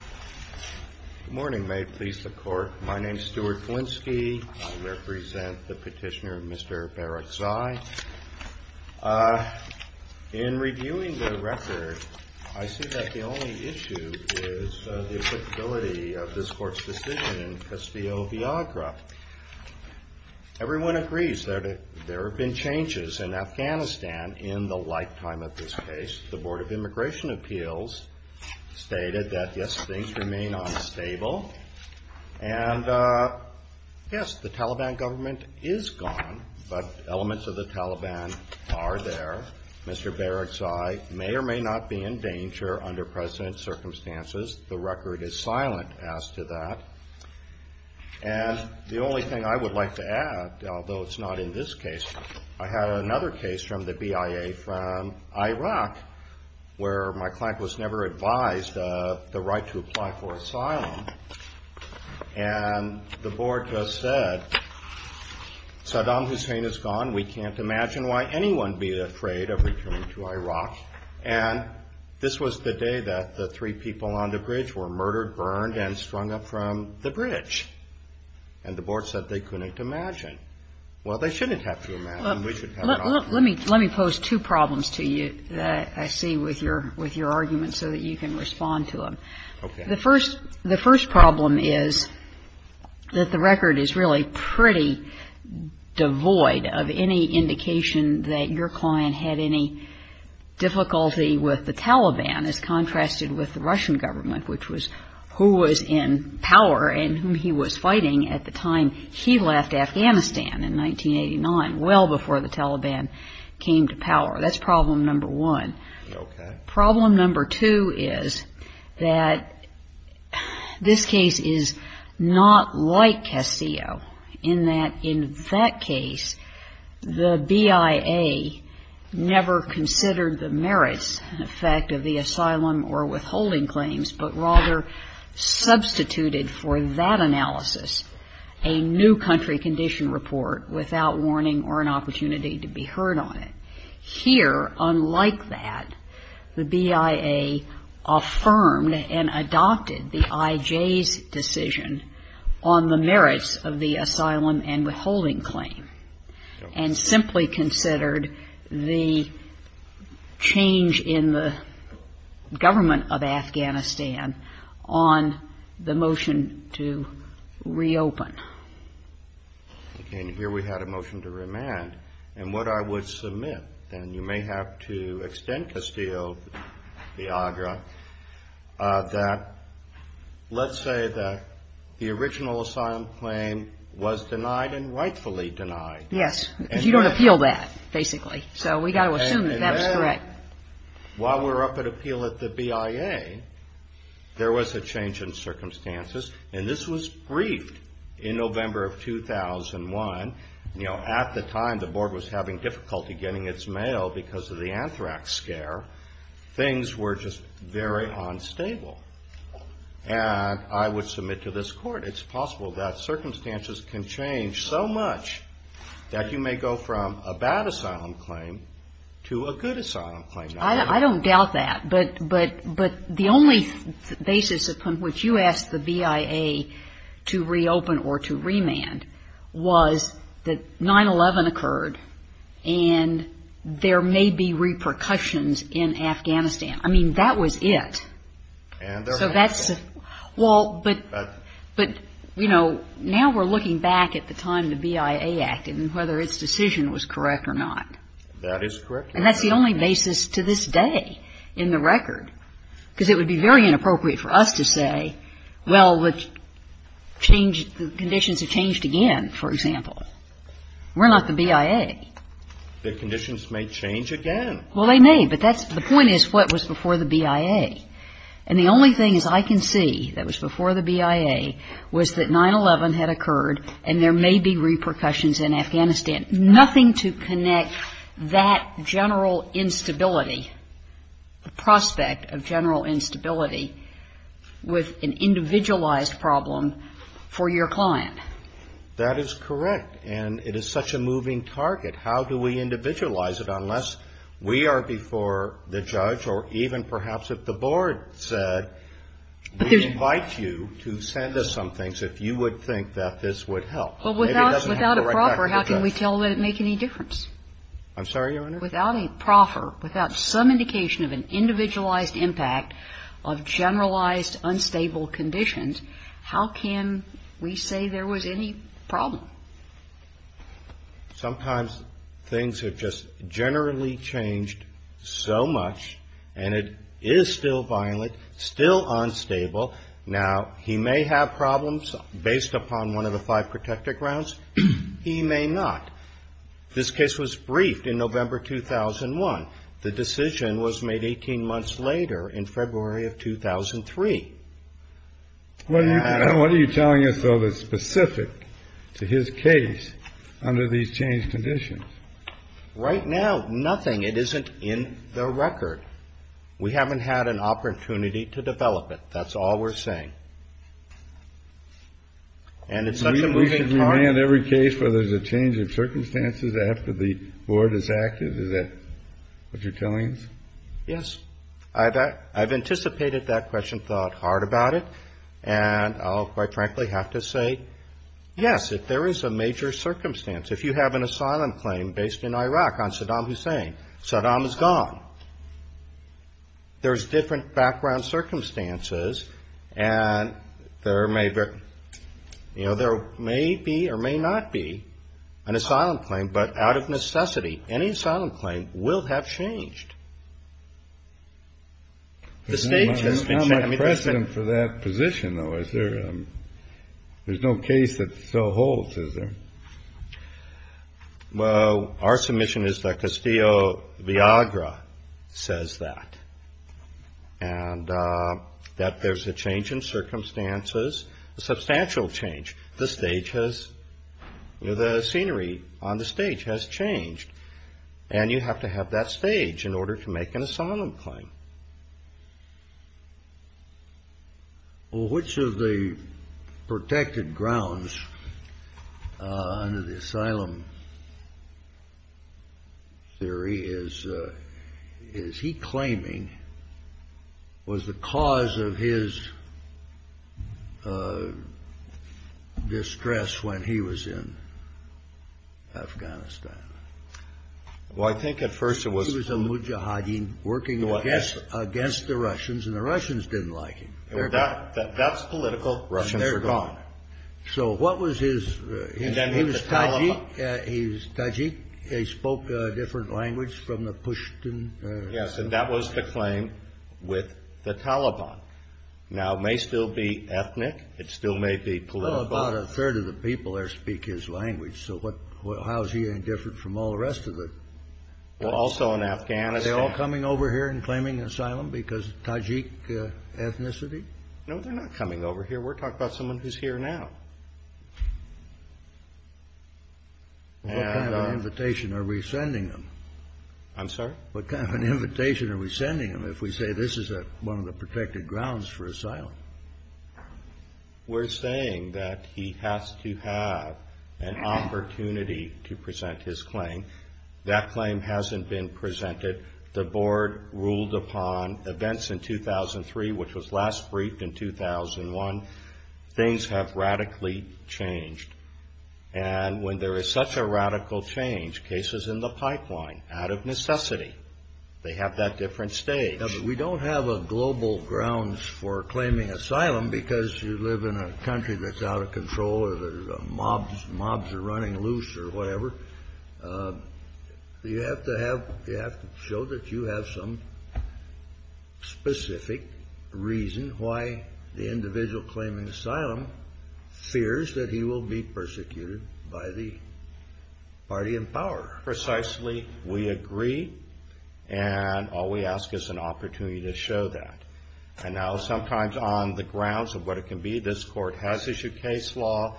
Good morning. May it please the Court, my name is Stuart Kulinski. I represent the petitioner Mr. Barekzai. In reviewing the record, I see that the only issue is the applicability of this Court's decision in Castillo-Viagra. Everyone agrees that there have been changes in Afghanistan in the lifetime of this case. The Board of Immigration Appeals stated that, yes, things remain unstable. And, yes, the Taliban government is gone, but elements of the Taliban are there. Mr. Barekzai may or may not be in danger under present circumstances. The record is silent as to that. And the only thing I would like to add, although it's not in this case, I had another case from the BIA from Iraq, where my client was never advised of the right to apply for asylum. And the Board just said, Saddam Hussein is gone, we can't imagine why anyone would be afraid of returning to Iraq. And this was the day that the three people on the bridge were murdered, burned, and strung up from the bridge. And the Board said they couldn't imagine. Well, they shouldn't have to imagine, we should have an option. Let me pose two problems to you that I see with your argument so that you can respond to them. The first problem is that the record is really pretty devoid of any indication that your client had any difficulty with the Taliban, as contrasted with the Russian government, which was who was in power and whom he was fighting at the time he left Afghanistan in 1989, well before the Taliban came to power. That's problem number one. Problem number two is that this case is not like Casio, in that in that case, the BIA never considered the merits and effect of the asylum or withholding claims, but rather substituted for that analysis a new country condition report without warning or an opportunity to be heard on it. Here, unlike that, the BIA affirmed and adopted the IJ's decision on the merits of the asylum and withholding claim, and simply considered the change in the government of Afghanistan on the motion to reopen. Okay, and here we had a motion to remand, and what I would submit, and you may have to extend, Castillo, Viagra, that let's say that the original asylum claim was denied and rightfully denied. Yes, because you don't appeal that, basically, so we got to assume that that was correct. While we're up at appeal at the BIA, there was a change in circumstances, and this was briefed in November of 2001. You know, at the time, the board was having difficulty getting its mail because of the anthrax scare. Things were just very unstable, and I would submit to this court, it's possible that circumstances can change so much that you may go from a bad asylum claim to a good asylum claim, and I would submit to this court, I don't doubt that, but the only basis upon which you asked the BIA to reopen or to remand was that 9-11 occurred, and there may be repercussions in Afghanistan. I mean, that was it. So that's, well, but, you know, now we're looking back at the time the BIA acted and whether its decision was correct or not. And that's the only basis to this day in the record, because it would be very inappropriate for us to say, well, the conditions have changed again, for example. We're not the BIA. The conditions may change again. Well, they may, but the point is what was before the BIA, and the only thing I can see that was before the BIA was that 9-11 had occurred, and there may be repercussions in Afghanistan. Now, the question is, how do you connect that general instability, the prospect of general instability, with an individualized problem for your client? That is correct, and it is such a moving target. How do we individualize it unless we are before the judge or even perhaps if the board said, we invite you to send us some things if you would think that this would help. Well, without a proffer, how can we tell that it would make any difference? I'm sorry, Your Honor? Without a proffer, without some indication of an individualized impact of generalized unstable conditions, how can we say there was any problem? Sometimes things have just generally changed so much, and it is still violent, still unstable. Now, he may have problems based upon one of the five protected grounds. He may not. This case was briefed in November 2001. The decision was made 18 months later in February of 2003. What are you telling us, though, that's specific to his case under these changed conditions? Right now, nothing. It isn't in the record. We haven't had an opportunity to develop it. That's all we're saying. And it's such a moving target. We should remand every case where there's a change of circumstances after the board is active? Is that what you're telling us? Yes. I've anticipated that question, thought hard about it. And I'll, quite frankly, have to say, yes, if there is a major circumstance, if you have an asylum claim based in Iraq on Saddam Hussein, Saddam is gone. There's different background circumstances, and there may be, you know, there may be or may not be an asylum claim, but out of necessity, any asylum claim will have changed. The stage has been set. There's no precedent for that position, though, is there? There's no case that still holds, is there? Well, our submission is that Castillo-Viagra says that. And that there's a change in circumstances, a substantial change. The stage has, you know, the scenery on the stage has changed. And you have to have that stage in order to make an asylum claim. Well, which of the protected grounds under the asylum theory is he claiming was the cause of his distress when he was in Afghanistan? Well, I think at first it was... He was a Mujahideen working against the Russians, and the Russians didn't like him. That's political. Russians are gone. So what was his... Well, also in Afghanistan. No, they're not coming over here. I'm sorry? I mean, if we say this is one of the protected grounds for asylum. We're saying that he has to have an opportunity to present his claim. That claim hasn't been presented. The board ruled upon events in 2003, which was last briefed in 2001. Things have radically changed. And when there is such a radical change, cases in the pipeline out of necessity. They have that different stage. We don't have a global grounds for claiming asylum because you live in a country that's out of control. Mobs are running loose or whatever. You have to have... That's the reason why the individual claiming asylum fears that he will be persecuted by the party in power. Precisely, we agree, and all we ask is an opportunity to show that. And now sometimes on the grounds of what it can be, this court has issued case law.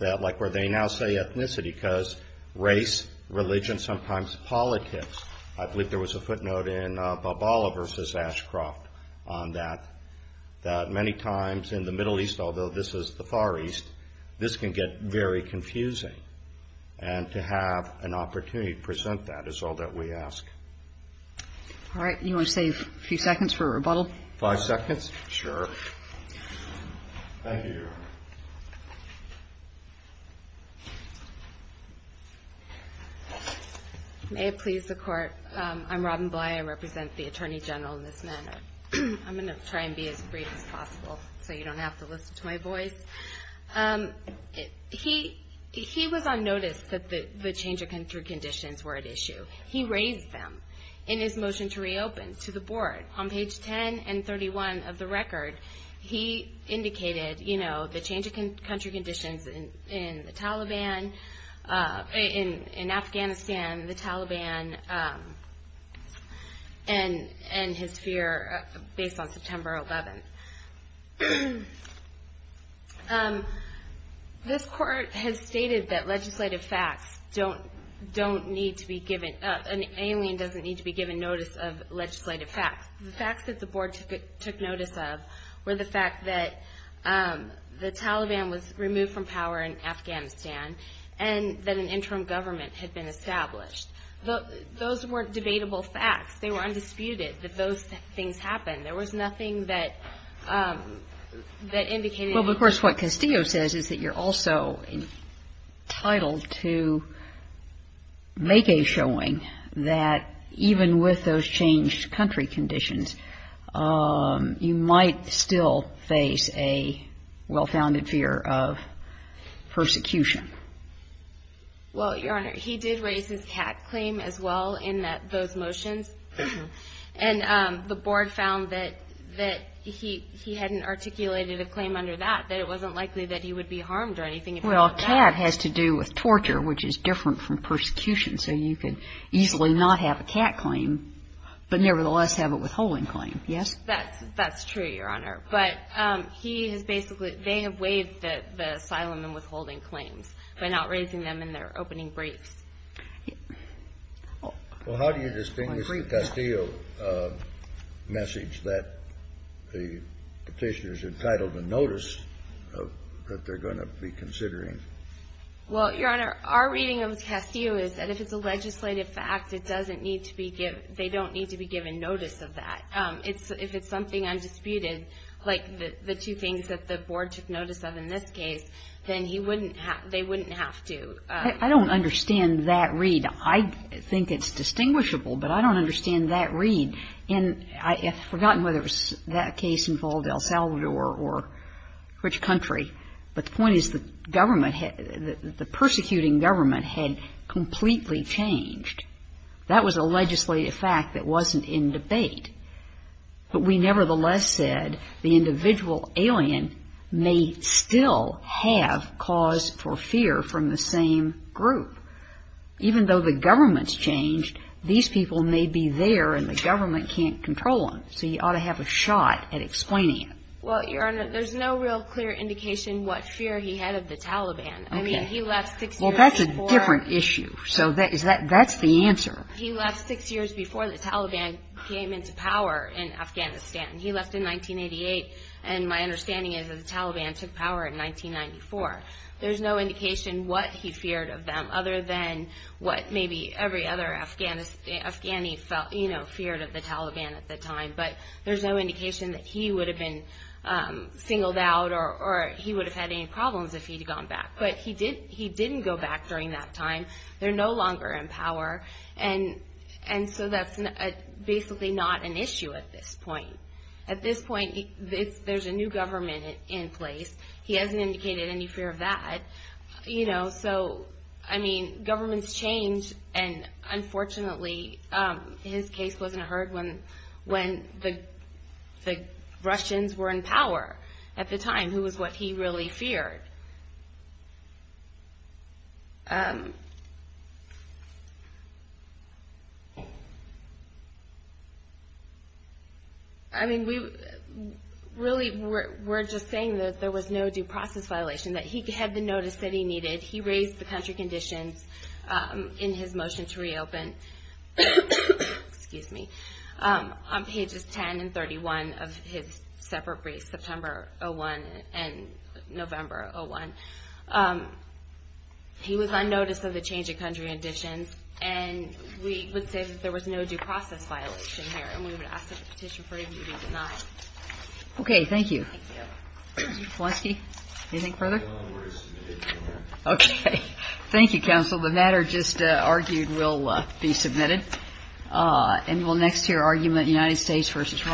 Like where they now say ethnicity, because race, religion, sometimes politics. I believe there was a footnote in Balboa versus Ashcroft on that, that many times in the Middle East, although this is the Far East, this can get very confusing. And to have an opportunity to present that is all that we ask. All right. You want to save a few seconds for a rebuttal? Five seconds? Sure. Thank you, Your Honor. May it please the court, I'm Robin Bly, I represent the Attorney General in this matter. I'm going to try and be as brief as possible so you don't have to listen to my voice. He was on notice that the change of country conditions were at issue. He raised them in his motion to reopen to the board. On page 10 and 31 of the record, he indicated, you know, the change of country conditions in the Taliban, in Afghanistan, the Taliban, and his fear based on September 11th. This court has stated that legislative facts don't need to be given, an alien doesn't need to be given notice of legislative facts. The facts that the board took notice of were the fact that the Taliban was removed from power in Afghanistan and that an interim government had been established. Those weren't debatable facts. They were undisputed that those things happened. There was nothing that indicated. Well, of course, what Castillo says is that you're also entitled to make a showing that even with those changed country conditions, you might still face a well-founded fear of persecution. Well, Your Honor, he did raise his cat claim as well in those motions. And the board found that he hadn't articulated a claim under that, that it wasn't likely that he would be harmed or anything. Well, a cat has to do with torture, which is different from persecution. So you could easily not have a cat claim, but nevertheless have a withholding claim, yes? That's true, Your Honor. But he has basically – they have waived the asylum and withholding claims by not raising them in their opening briefs. Well, how do you distinguish the Castillo message that the petitioner's entitled to notice that they're going to be considering? Well, Your Honor, our reading of Castillo is that if it's a legislative fact, it doesn't need to be – they don't need to be given notice of that. If it's something undisputed, like the two things that the board took notice of in this case, then he wouldn't have – they wouldn't have to. I don't understand that read. I think it's distinguishable, but I don't understand that read. And I've forgotten whether that case involved El Salvador or which country, but the point is the government – the persecuting government had completely changed. That was a legislative fact that wasn't in debate. But we nevertheless said the individual alien may still have cause for fear from the same group. Even though the government's changed, these people may be there and the government can't control them, so you ought to have a shot at explaining it. Well, Your Honor, there's no real clear indication what fear he had of the Taliban. Okay. I mean, he left six years before – Well, that's a different issue, so that's the answer. He left six years before the Taliban came into power in Afghanistan. He left in 1988, and my understanding is that the Taliban took power in 1994. There's no indication what he feared of them, other than what maybe every other Afghani feared of the Taliban at the time. But there's no indication that he would have been singled out or he would have had any problems if he'd gone back. But he didn't go back during that time. They're no longer in power, and so that's basically not an issue at this point. At this point, there's a new government in place. He hasn't indicated any fear of that. So, I mean, governments change, and unfortunately his case wasn't heard when the Russians were in power at the time, who was what he really feared. I mean, really, we're just saying that there was no due process violation, that he had the notice that he needed. He raised the country conditions in his motion to reopen – excuse me – on pages 10 and 31 of his separate briefs, September 2001 and November 2001. He was unnoticed of the change of country conditions, and we would say that there was no due process violation here, and we would ask that the petition for review be denied. Okay, thank you. Thank you. Mr. Polanski, anything further? No, I'm ready to submit it. Okay. Thank you, counsel. The matter just argued will be submitted. And we'll next hear argument United States v. Roberts.